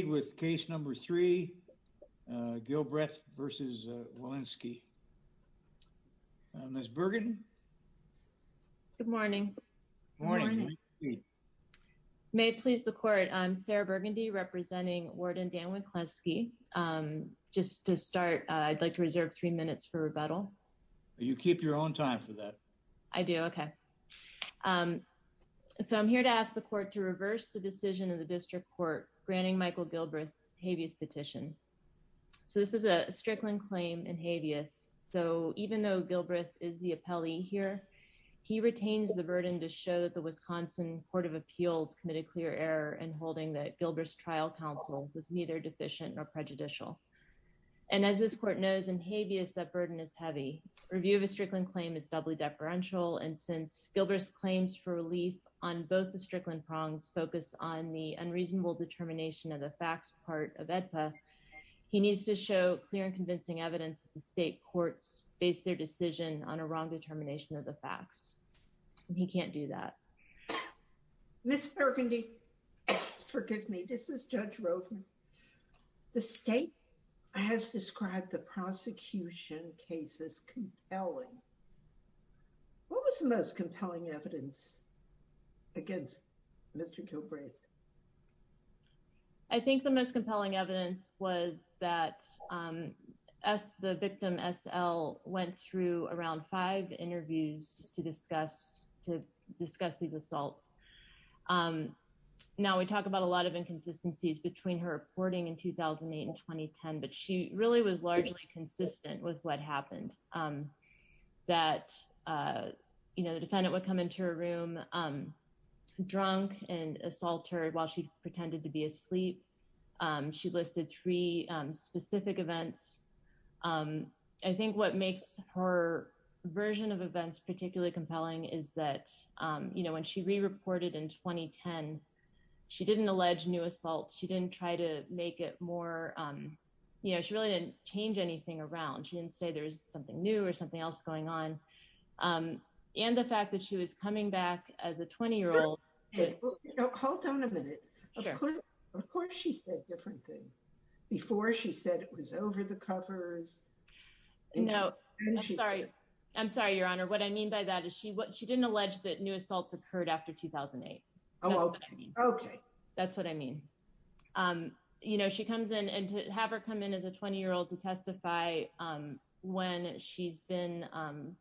Good morning. May it please the court, I'm Sarah Burgundy representing Warden Dan Winkleski. Just to start, I'd like to reserve three minutes for rebuttal. You keep your own time for that. I do, okay. So I'm here to ask the court to reverse the decision of the district court granting Michael Gilbreath's habeas petition. So this is a Strickland claim in habeas. So even though Gilbreath is the appellee here, he retains the burden to show that the Wisconsin Court of Appeals committed clear error in holding that Gilbreath's trial counsel was neither deficient nor prejudicial. And as this court knows in habeas, that burden is heavy. Review of a Strickland claim is doubly deferential. And since Gilbreath's claims for focus on the unreasonable determination of the facts part of AEDPA, he needs to show clear and convincing evidence that the state courts face their decision on a wrong determination of the facts. And he can't do that. Ms. Burgundy, forgive me, this is Judge Rovner. The state has described the prosecution case as compelling. What was the most compelling evidence against Mr. Gilbreath? I think the most compelling evidence was that the victim SL went through around five interviews to discuss these assaults. Now we talk about a lot of inconsistencies between her reporting in 2008 and 2010, but she really was largely consistent with what happened. That the defendant would come into her room drunk and assault her while she pretended to be asleep. She listed three specific events. I think what makes her version of events particularly compelling is that when she re-reported in 2010, she didn't allege new assaults, didn't try to make it more, she really didn't change anything around. She didn't say there's something new or something else going on. And the fact that she was coming back as a 20-year-old. Hold on a minute. Of course she said different things. Before she said it was over the covers. No, I'm sorry. I'm sorry, Your Honor. What I mean by that is she didn't allege that new assaults. She comes in and to have her come in as a 20-year-old to testify when she's been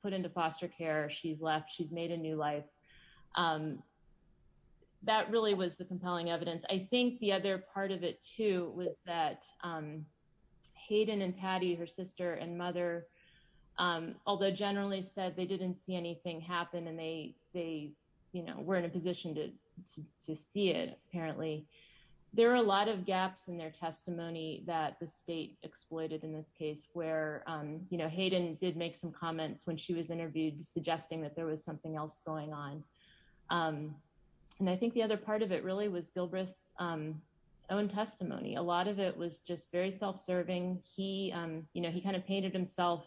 put into foster care, she's left, she's made a new life. That really was the compelling evidence. I think the other part of it too was that Hayden and Patty, her sister and mother, although generally said they didn't see anything happen and they were in a position to see it apparently, there were a lot of gaps in their testimony that the state exploited in this case where Hayden did make some comments when she was interviewed suggesting that there was something else going on. And I think the other part of it really was Gilbreth's own testimony. A lot of it was just very self-serving. He kind of painted himself,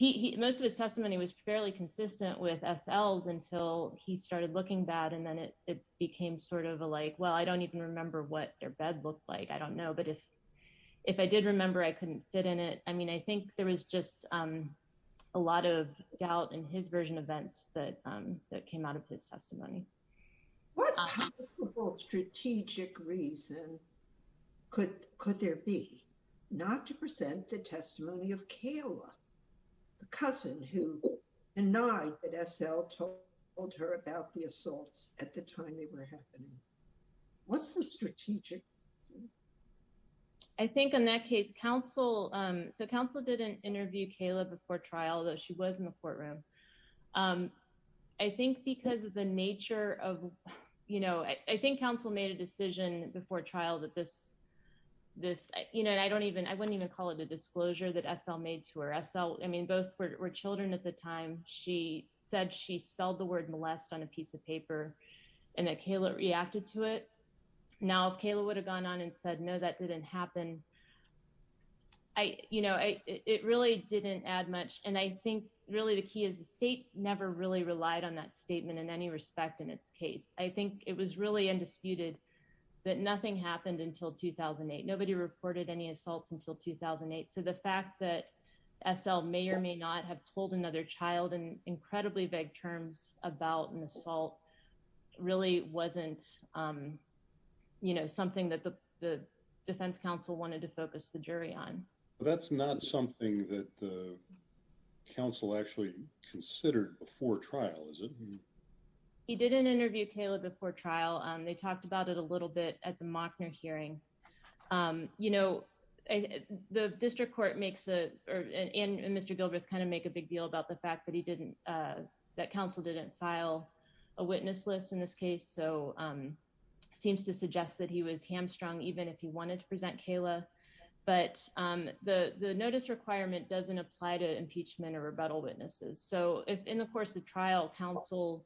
most of his testimony was fairly consistent with S.L.'s until he started looking bad. And then it became sort of a like, well, I don't even remember what their bed looked like. I don't know. But if I did remember, I couldn't fit in it. I mean, I think there was just a lot of doubt in his version of events that came out of his testimony. What kind of strategic reason could there be not to present the testimony of Kayla, the cousin who denied that S.L. told her about the assaults at the time they were happening? What's the strategic? I think in that case, counsel, so counsel didn't interview Kayla before trial, though she was in the courtroom. I think because of the nature of, you know, I think counsel made a decision before trial that this, you know, and I don't even, I wouldn't even call it a disclosure that S.L. made to her. I mean, both were children at the time. She said she spelled the word molest on a piece of paper and that Kayla reacted to it. Now, if Kayla would have gone on and said, no, that didn't happen. I, you know, it really didn't add much. And I think really the key is the state never really relied on that statement in any respect in its case. I think it was really undisputed that nothing happened until 2008. Nobody reported any assaults until 2008. So the fact that S.L. may or may not have told another child in incredibly vague terms about an assault really wasn't, you know, something that the defense counsel wanted to focus the jury on. But that's not something that the considered before trial, is it? He didn't interview Kayla before trial. They talked about it a little bit at the Mockner hearing. You know, the district court makes a, and Mr. Gilbreth kind of make a big deal about the fact that he didn't, that counsel didn't file a witness list in this case. So seems to suggest that he was hamstrung even if he wanted to present Kayla. But the notice requirement doesn't apply to impeachment or rebuttal witnesses. So in the course of trial, counsel,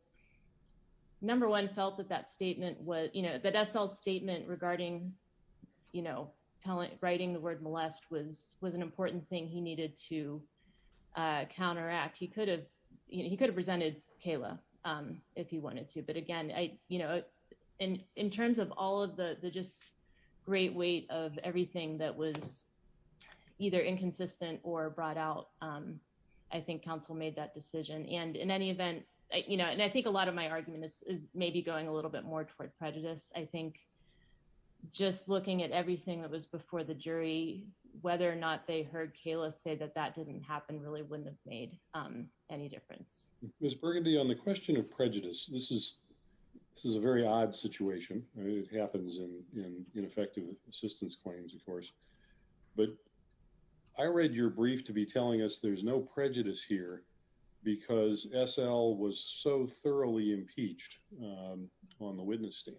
number one felt that that statement was, you know, that S.L.'s statement regarding, you know, writing the word molest was an important thing he needed to counteract. He could have, you know, he could have presented Kayla if he wanted to. But again, I, you know, in terms of all of the just great weight of everything that was either inconsistent or brought out, I think counsel made that decision. And in any event, you know, and I think a lot of my argument is maybe going a little bit more toward prejudice. I think just looking at everything that was before the jury, whether or not they heard Kayla say that that didn't happen really wouldn't have made any difference. Ms. Burgundy, on the question of prejudice, this is, this is a very odd situation. It happens in ineffective assistance claims, of course. But I read your brief to be telling us there's no prejudice here because S.L. was so thoroughly impeached on the witness stand.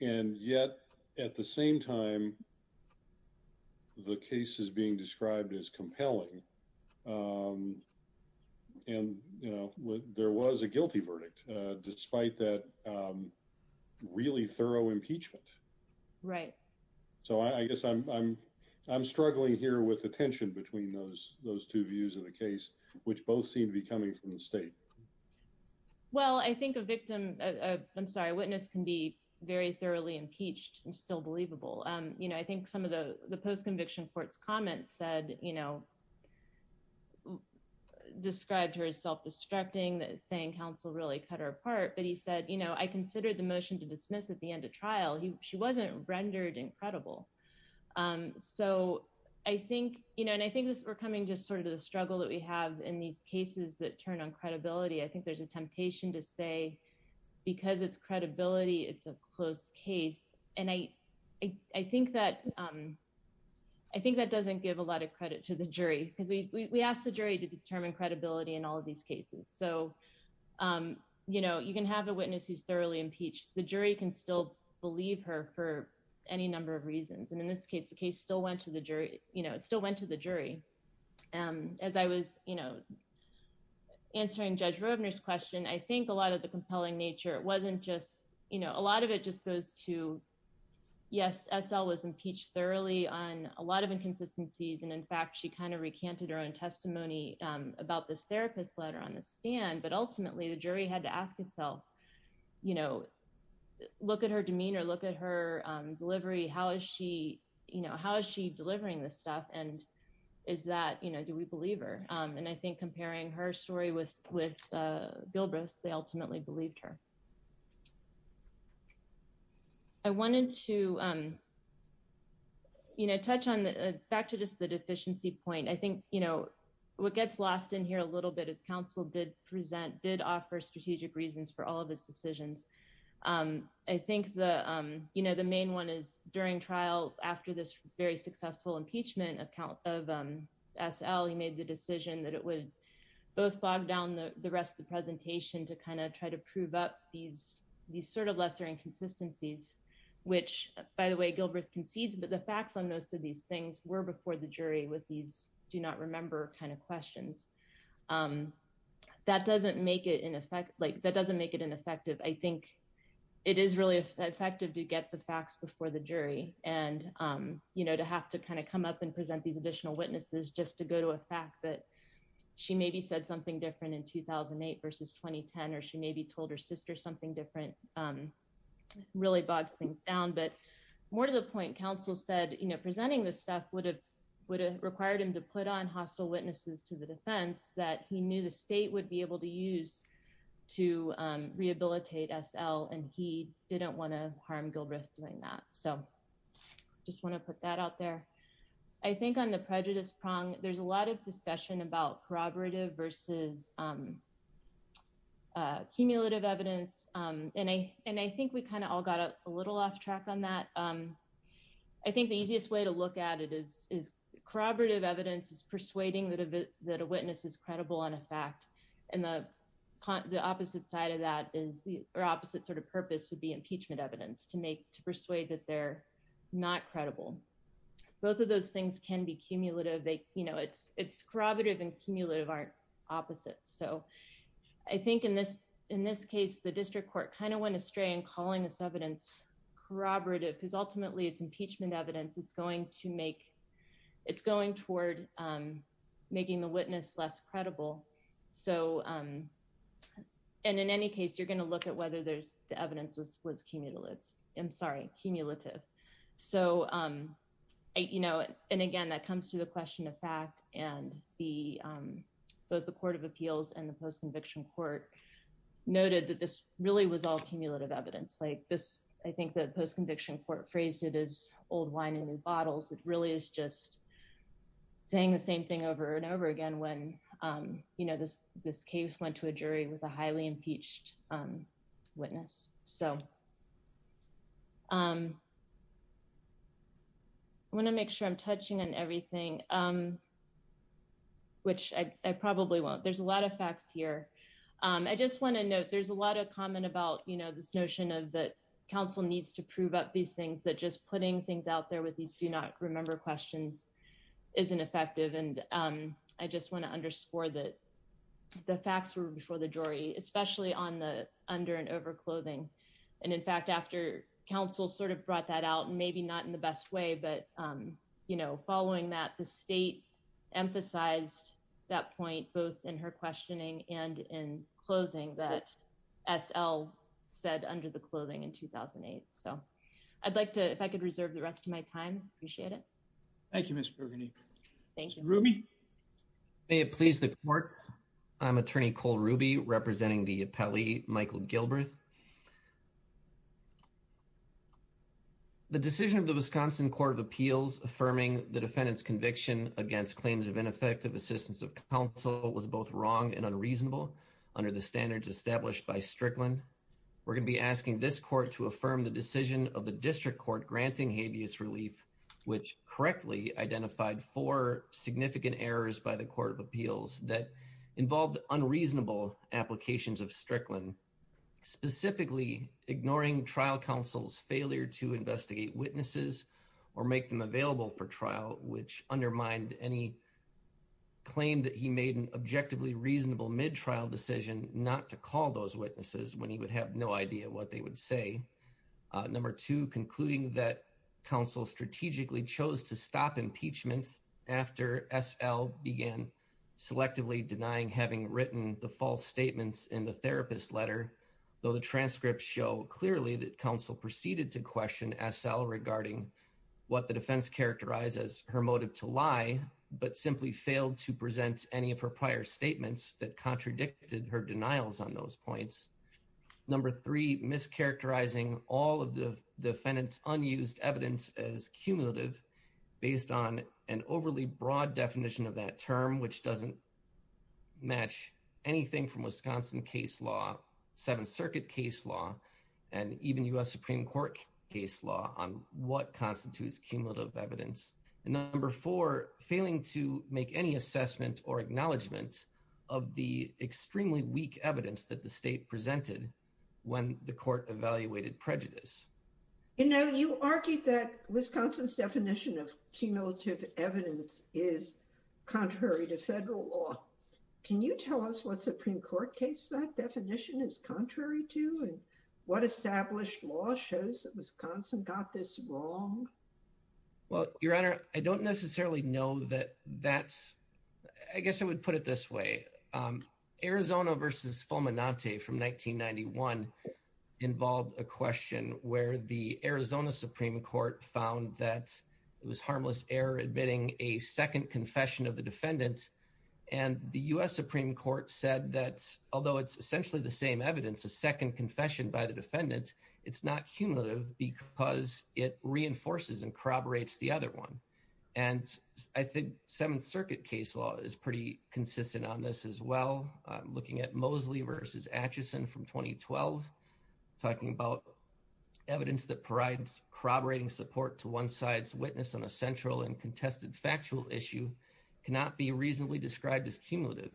And yet at the same time, the case is being described as compelling. And, you know, there was a guilty verdict, despite that really thorough impeachment. Right. So I guess I'm, I'm, I'm struggling here with the tension between those, those two views of the case, which both seem to be coming from the state. Well, I think a victim, I'm sorry, a witness can be very thoroughly impeached and still believable. You know, I think some of the post-conviction court's comments said, you know, described her as self-destructing, saying counsel really cut her apart. But he said, you know, I considered the motion to dismiss at the end of trial. She wasn't rendered incredible. So I think, you know, and I think this, we're coming just sort of the struggle that we have in these cases that turn on credibility. I think there's a temptation to say, because it's credibility, it's a close case. And I, I think that, I think that doesn't give a lot of credit to the jury because we asked the jury to determine credibility in all of these cases. So, you know, you can have a witness who's thoroughly impeached. The jury can still believe her for any number of reasons. And in this case, the case still went to the jury, you know, it still went to the jury. As I was, you know, answering Judge Roebner's question, I think a lot of the compelling nature, it wasn't just, you know, a lot of it just goes to, yes, SL was impeached thoroughly on a lot of inconsistencies. And in fact, she kind of recanted her own testimony about this therapist letter on the stand. But ultimately the jury had to ask itself, you know, look at her demeanor, look at her delivery. How is she, you know, how is she delivering this stuff? And is that, you know, do we believe her? And I think comparing her story with Gilbreth's, they ultimately believed her. I wanted to, you know, touch on, back to just the deficiency point. I think, you know, what gets lost in here a little bit is counsel did present, did offer strategic reasons for all of his decisions. I think the, you know, the main one is during trial after this very successful impeachment of SL, he made the both bogged down the rest of the presentation to kind of try to prove up these sort of lesser inconsistencies, which by the way, Gilbreth concedes, but the facts on most of these things were before the jury with these do not remember kind of questions. That doesn't make it in effect, like that doesn't make it ineffective. I think it is really effective to get the facts before the jury and, you know, to have to kind of come up and present these additional witnesses just to go to a that she maybe said something different in 2008 versus 2010, or she maybe told her sister something different, really bogs things down. But more to the point, counsel said, you know, presenting this stuff would have required him to put on hostile witnesses to the defense that he knew the state would be able to use to rehabilitate SL. And he didn't want to harm Gilbreth doing that. So just want to put that out there. I think on the prejudice prong, there's a lot of discussion about corroborative versus cumulative evidence. And I think we kind of all got a little off track on that. I think the easiest way to look at it is corroborative evidence is persuading that a witness is credible on a fact. And the opposite side of that is the opposite sort of purpose would be impeachment evidence to make to persuade that they're not credible. Both of those things can be cumulative, they, you know, it's, it's corroborative and cumulative aren't opposite. So I think in this, in this case, the district court kind of went astray and calling this evidence corroborative, because ultimately, it's impeachment evidence, it's going to make, it's going toward making the witness less credible. So and in any case, you're going to look at whether there's the evidence was cumulative. I'm sorry, cumulative. So I, you know, and again, that comes to the question of fact, and the both the Court of Appeals and the post conviction court noted that this really was all cumulative evidence like this. I think the post conviction court phrased it as old wine in new bottles, it really is just saying the same thing over and witness. So I want to make sure I'm touching on everything, which I probably won't, there's a lot of facts here. I just want to note, there's a lot of comment about, you know, this notion of the council needs to prove up these things that just putting things out there with these do not remember questions isn't effective. And I just want to underscore that the facts were before the jury, especially on the under and over clothing. And in fact, after counsel sort of brought that out, and maybe not in the best way, but, you know, following that the state emphasized that point, both in her questioning and in closing that SL said under the clothing in 2008. So I'd like to if I could reserve the rest of my time, appreciate it. Thank you, Mr. Rooney. Thank you, Ruby. May it please the courts. I'm attorney Cole Ruby representing the appellee Michael Gilbert. The decision of the Wisconsin Court of Appeals affirming the defendant's conviction against claims of ineffective assistance of counsel was both wrong and unreasonable. Under the standards established by Strickland. We're going to be asking this court to affirm the decision of which correctly identified for significant errors by the Court of Appeals that involved unreasonable applications of Strickland, specifically ignoring trial counsel's failure to investigate witnesses, or make them available for trial, which undermined any claim that he made an objectively reasonable mid trial decision not to call those witnesses when you would have no idea what they would say. Number two concluding that counsel strategically chose to stop impeachment after SL began selectively denying having written the false statements in the therapist letter, though the transcripts show clearly that counsel proceeded to question SL regarding what the defense characterizes her motive to lie, but simply failed to present any of her prior statements that contradicted her denials on those points. Number three mischaracterizing all of the defendant's unused evidence as cumulative based on an overly broad definition of that term which doesn't match anything from Wisconsin case law, Seventh Circuit case law, and even US Supreme Court case law on what constitutes cumulative evidence. Number four failing to make any assessment or acknowledgement of the extremely weak evidence that the state presented when the court evaluated prejudice. You know you argued that Wisconsin's definition of cumulative evidence is contrary to federal law. Can you tell us what Supreme Court case that definition is contrary to and what established law shows that Wisconsin got this wrong? Well your honor I don't necessarily know that that's I guess I would put it this way Arizona versus Fulminante from 1991 involved a question where the Arizona Supreme Court found that it was harmless error admitting a second confession of the defendant and the US Supreme Court said that although it's essentially the same evidence a second confession by the defendant it's not cumulative because it reinforces and corroborates the other one and I think Seventh Circuit case law is pretty consistent on this as well looking at Mosley versus Atchison from 2012 talking about evidence that provides corroborating support to one side's witness on a central and contested factual issue cannot be reasonably described as cumulative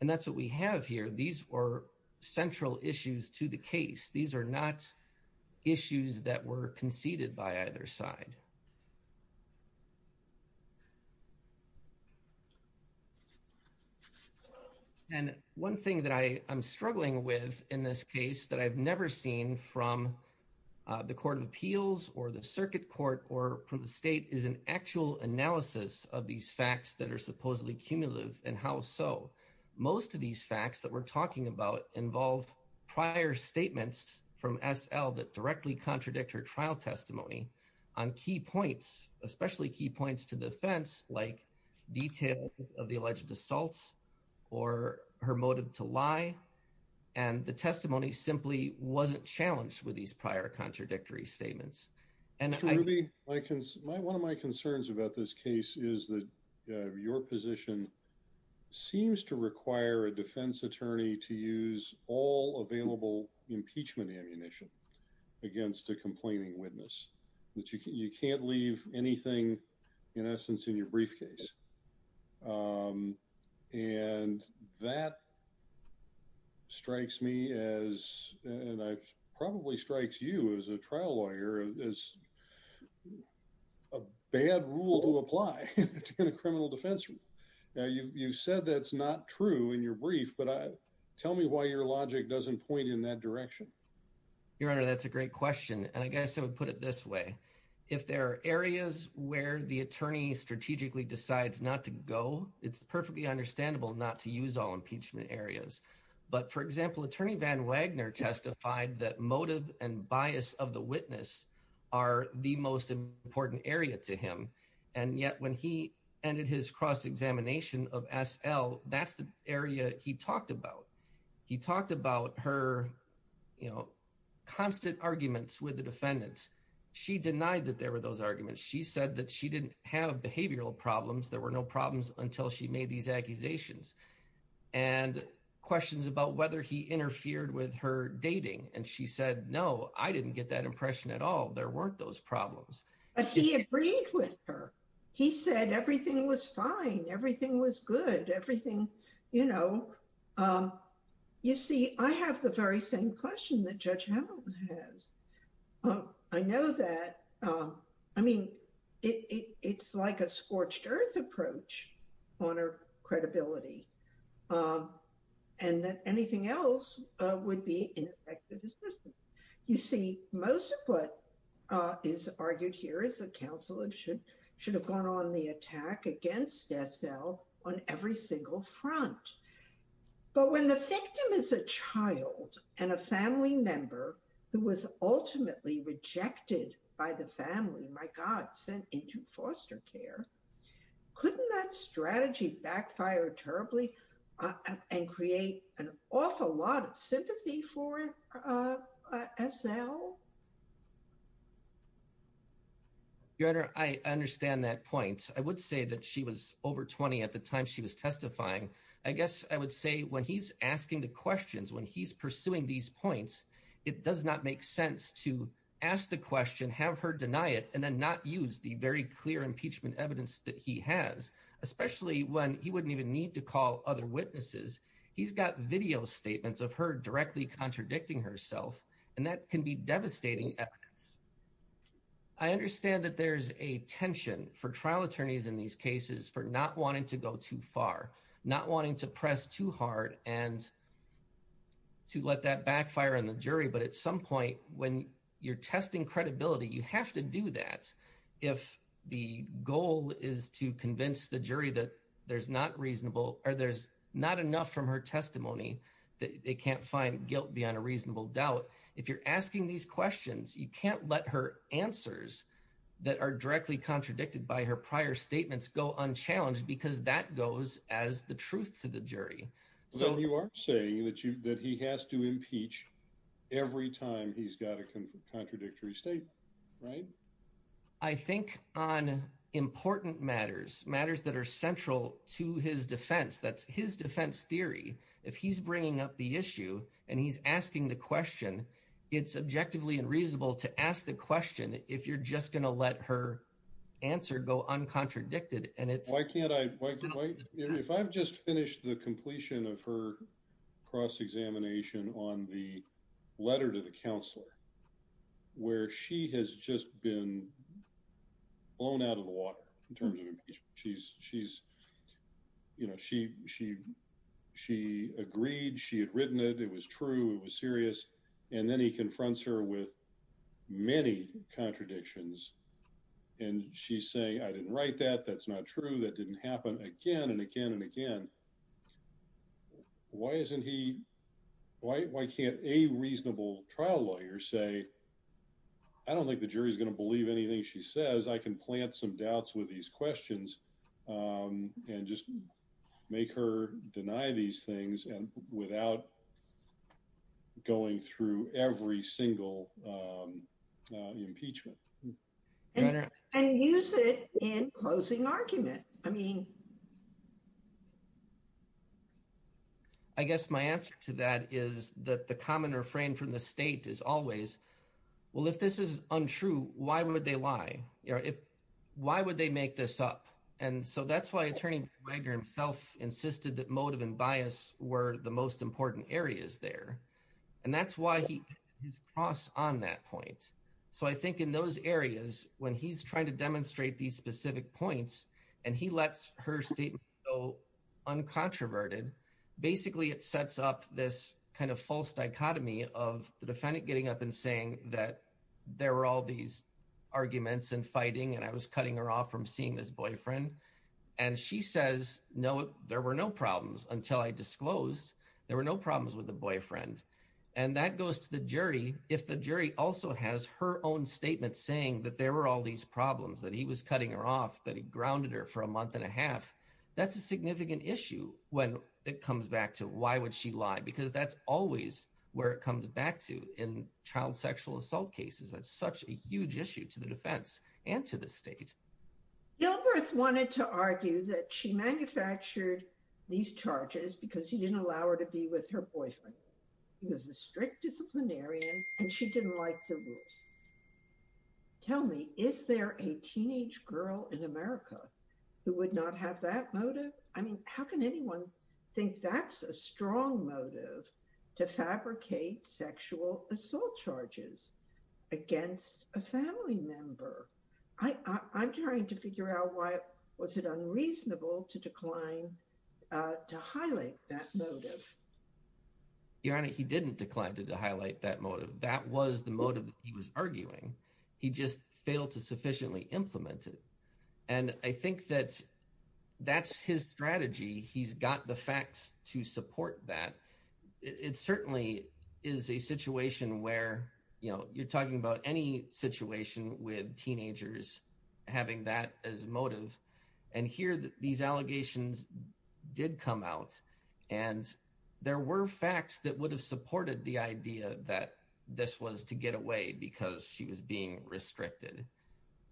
and that's what we have here these are central issues to the case these are not issues that were conceded by either side and one thing that I am struggling with in this case that I've never seen from the court of appeals or the circuit court or from the state is an actual analysis of these facts that are supposedly cumulative and how so most of these facts that we're talking about involve prior statements from SL that directly contradict her trial testimony on key points especially key points to defense like details of the alleged assaults or her motive to lie and the testimony simply wasn't challenged with these prior contradictory statements and one of my concerns about this case is that your position seems to require a defense attorney to use all available impeachment ammunition against a complaining witness that you can't leave anything in essence in your briefcase and that strikes me as and I probably strikes you as a trial lawyer as a bad rule to apply in a criminal defense now you've said that's not true in your brief but tell me why your logic doesn't point in that direction your honor that's a great question and I guess I would put it this way if there are areas where the attorney strategically decides not to go it's perfectly understandable not to use all impeachment areas but for example attorney van wagner testified that motive and bias of the witness are the most important area to him and yet when he ended his cross-examination of SL that's the area he talked about he talked about her you know constant arguments with the defendants she denied that there were those arguments she said that she didn't have behavioral problems there were no problems until she made these accusations and questions about whether he interfered with her dating and she said no I didn't get that impression at all there weren't those problems but he agreed with her he said everything was fine everything was good everything you know um you see I have the very same question has um I know that um I mean it it's like a scorched earth approach on her credibility um and that anything else uh would be ineffective you see most of what uh is argued here is the council it should should have gone on the attack against SL on every single front but when the member who was ultimately rejected by the family my god sent into foster care couldn't that strategy backfire terribly and create an awful lot of sympathy for SL your honor I understand that point I would say that she was over 20 at the time she was it does not make sense to ask the question have her deny it and then not use the very clear impeachment evidence that he has especially when he wouldn't even need to call other witnesses he's got video statements of her directly contradicting herself and that can be devastating evidence I understand that there's a tension for trial attorneys in these cases for not wanting to go too far not wanting to press too hard and to let that backfire on jury but at some point when you're testing credibility you have to do that if the goal is to convince the jury that there's not reasonable or there's not enough from her testimony that they can't find guilt beyond a reasonable doubt if you're asking these questions you can't let her answers that are directly contradicted by her prior statements go unchallenged because that goes as the truth to the jury so you are saying that you that he has to impeach every time he's got a contradictory state right I think on important matters matters that are central to his defense that's his defense theory if he's bringing up the issue and he's asking the question it's objectively unreasonable to ask the question if you're just going to let her answer go uncontradicted and it's why can't I if I've just finished the completion of her cross-examination on the letter to the counselor where she has just been blown out of the water in terms of impeachment she's she's you know she she she agreed she had written it it was true it was serious and then he confronts her with many contradictions and she's saying I didn't write that that's not true that didn't happen again and again and again why isn't he why can't a reasonable trial lawyer say I don't think the jury's going to believe anything she says I can plant some doubts with these questions and just make her deny these things and without going through every single impeachment and use it in closing argument I mean I guess my answer to that is that the common refrain from the state is always well if this is untrue why would they lie you know if why would they make this up and so that's why attorney Wagner himself insisted that motive and bias were the most important areas there and that's why he his cross on that point so I think in those areas when he's trying to demonstrate these specific points and he lets her statement go uncontroverted basically it sets up this kind of false dichotomy of the defendant getting up and saying that there were all these arguments and fighting and I was cutting her off from seeing this boyfriend and she says no there were no problems until I disclosed there were no problems with the boyfriend and that goes to the jury if the jury also has her own statement saying that there were all these problems that he was cutting her off that he grounded her for a month and a half that's a significant issue when it comes back to why would she lie because that's always where it comes back to in child sexual assault cases that's such a huge issue to the defense and to the state Gilbreth wanted to argue that she manufactured these charges because he didn't allow her to be with her boyfriend he was a strict disciplinarian and she didn't like the rules tell me is there a teenage girl in America who would not have that motive I mean how can anyone think that's a strong motive to fabricate sexual assault charges against a family member I'm trying to figure out why was it unreasonable to decline uh to highlight that motive your honor he didn't decline to highlight that motive that was the motive he was arguing he just failed to sufficiently implement it and I think that that's his strategy he's got the facts to support that it certainly is a situation where you know you're talking about any situation with teenagers having that as motive and here these allegations did come out and there were facts that would have supported the idea that this was to get away because she was being restricted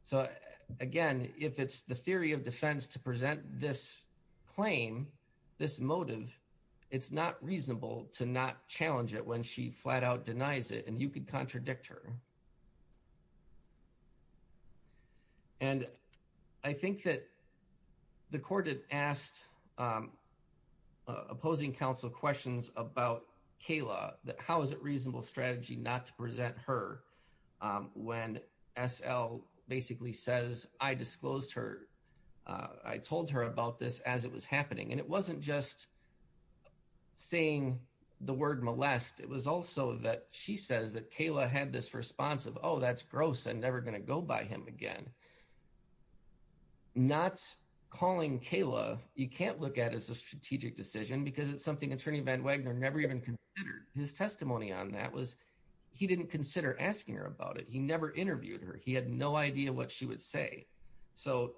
so again if it's the theory of defense to present this claim this motive it's not reasonable to not challenge it when she flat out denies it and you could contradict her and I think that the court had asked um opposing counsel questions about Kayla that how is it reasonable strategy not to present her when SL basically says I disclosed her I told her about this as it was happening and it wasn't just saying the word molest it was also that she says that Kayla had this response of oh that's gross and never going to go by him again not calling Kayla you can't look at as a strategic decision because it's something attorney Van Wagner never even considered his testimony on that was he didn't consider asking her about it he never interviewed her he had no idea what she would say so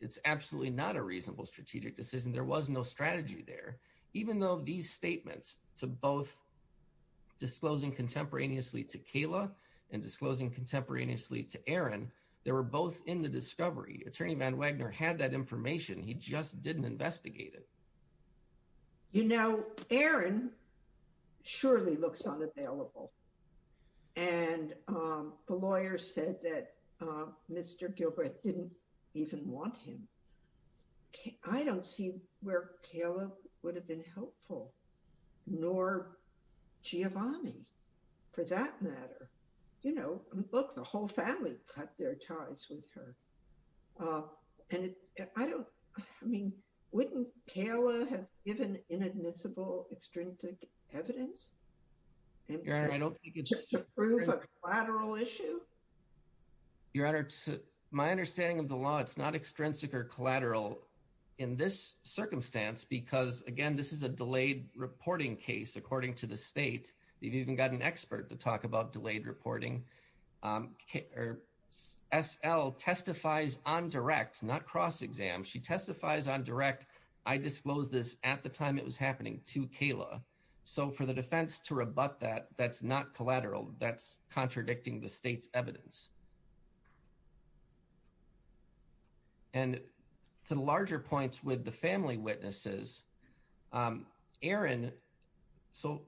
it's absolutely not a reasonable strategic decision there was no strategy there even though these statements to both disclosing contemporaneously to Kayla and disclosing contemporaneously to Aaron they were both in the discovery attorney Van Wagner had that information he just didn't investigate it you know Aaron surely looks unavailable and um the lawyer said that uh Mr. Gilbert didn't even want him I don't see where Kayla would have been helpful nor Giovanni for that matter you know look the whole family cut their ties with her uh and I don't I mean wouldn't Kayla have given inadmissible extrinsic evidence your honor I don't think it's a collateral issue your honor my understanding of the law it's not extrinsic or collateral in this circumstance because again this is a delayed reporting case according to the state they've even got an expert to talk about delayed reporting um SL testifies on direct not cross-exam she testifies on direct I disclose this at the time it was happening to Kayla so for the defense to rebut that that's not collateral that's contradicting the state's evidence and to larger points with the family witnesses um Aaron so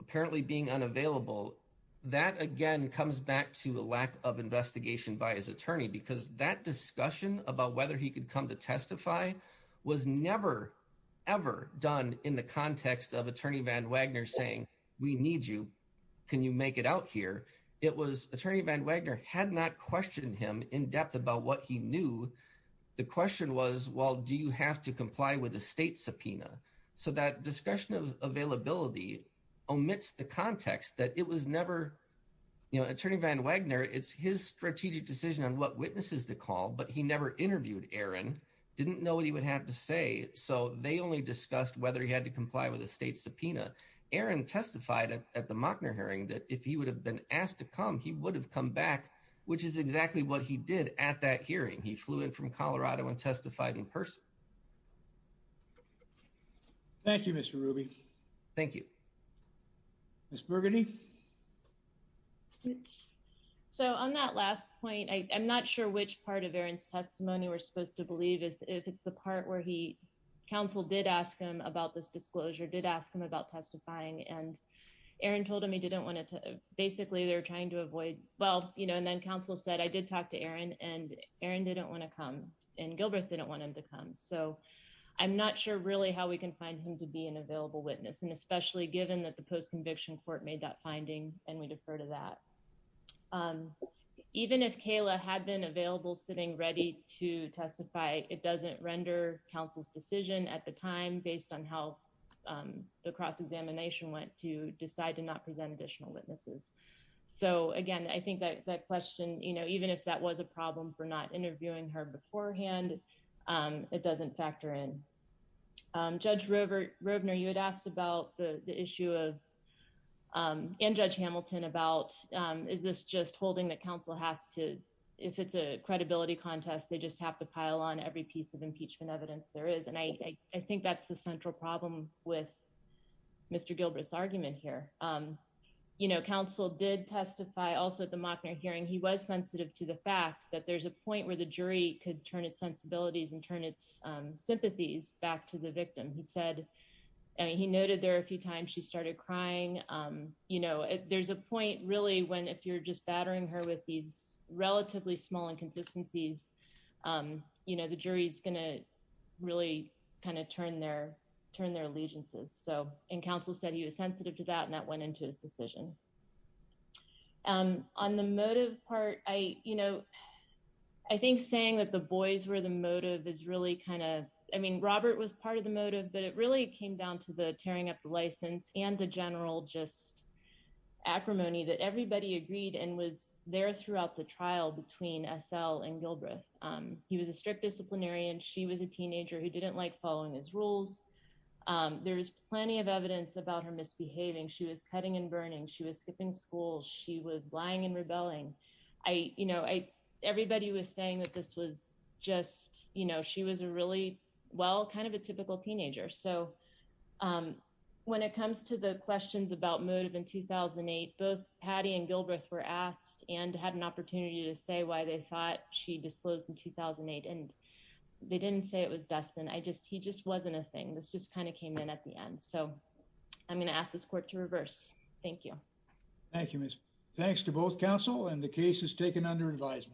apparently being unavailable that again comes back to a lack of investigation by his attorney because that discussion about whether he could come to testify was never ever done in the context of attorney van Wagner saying we need you can you make it out here it was attorney van Wagner had not questioned him in depth about what he knew the question was well do you have to comply with a state subpoena so that discussion of availability omits the context that it was never you know strategic decision on what witnesses to call but he never interviewed Aaron didn't know what he would have to say so they only discussed whether he had to comply with a state subpoena Aaron testified at the Mockner hearing that if he would have been asked to come he would have come back which is exactly what he did at that hearing he flew in from Colorado and testified in person Thank you Mr. Ruby. Thank you. Ms. Burgundy. So on that last point I'm not sure which part of Aaron's testimony we're supposed to believe is if it's the part where he counsel did ask him about this disclosure did ask him about testifying and Aaron told him he didn't want it to basically they're trying to avoid well you know and then counsel said I did talk to Aaron and Aaron didn't want to come and Gilbreth didn't want him to come so I'm not sure really how we can find him to be an available witness and especially given that the post-conviction court made that finding and we defer to that even if Kayla had been available sitting ready to testify it doesn't render counsel's decision at the time based on how the cross-examination went to decide to not present additional witnesses so again I think that question you know even if that was a problem for not interviewing her beforehand it doesn't factor in. Judge Roebner you had asked about the issue of and Judge Hamilton about is this just holding that counsel has to if it's a credibility contest they just have to pile on every piece of impeachment evidence there is and I think that's the central problem with Mr. Gilbreth's argument here you know counsel did testify also at the Mockner hearing he was sensitive to the fact that there's a point where the jury could turn its sensibilities and turn its sympathies back to the victim he said and he noted there a few times she started crying you know there's a point really when if you're just battering her with these relatively small inconsistencies you know the jury's gonna really kind of turn their turn their allegiances so and counsel said he was sensitive to that and that went into his decision on the motive part I you know I think saying that the boys were the motive is really kind of I mean Robert was part of the motive but it really came down to the tearing up the license and the general just acrimony that everybody agreed and was there throughout the trial between S.L. and Gilbreth he was a strict disciplinarian she was a teenager who didn't like following his skipping school she was lying and rebelling I you know I everybody was saying that this was just you know she was a really well kind of a typical teenager so when it comes to the questions about motive in 2008 both Patty and Gilbreth were asked and had an opportunity to say why they thought she disclosed in 2008 and they didn't say it was Dustin I just he just wasn't a thing this just kind of came in at the end so I'm going to ask this court to reverse thank you thank you miss thanks to both counsel and the case is taken under advisement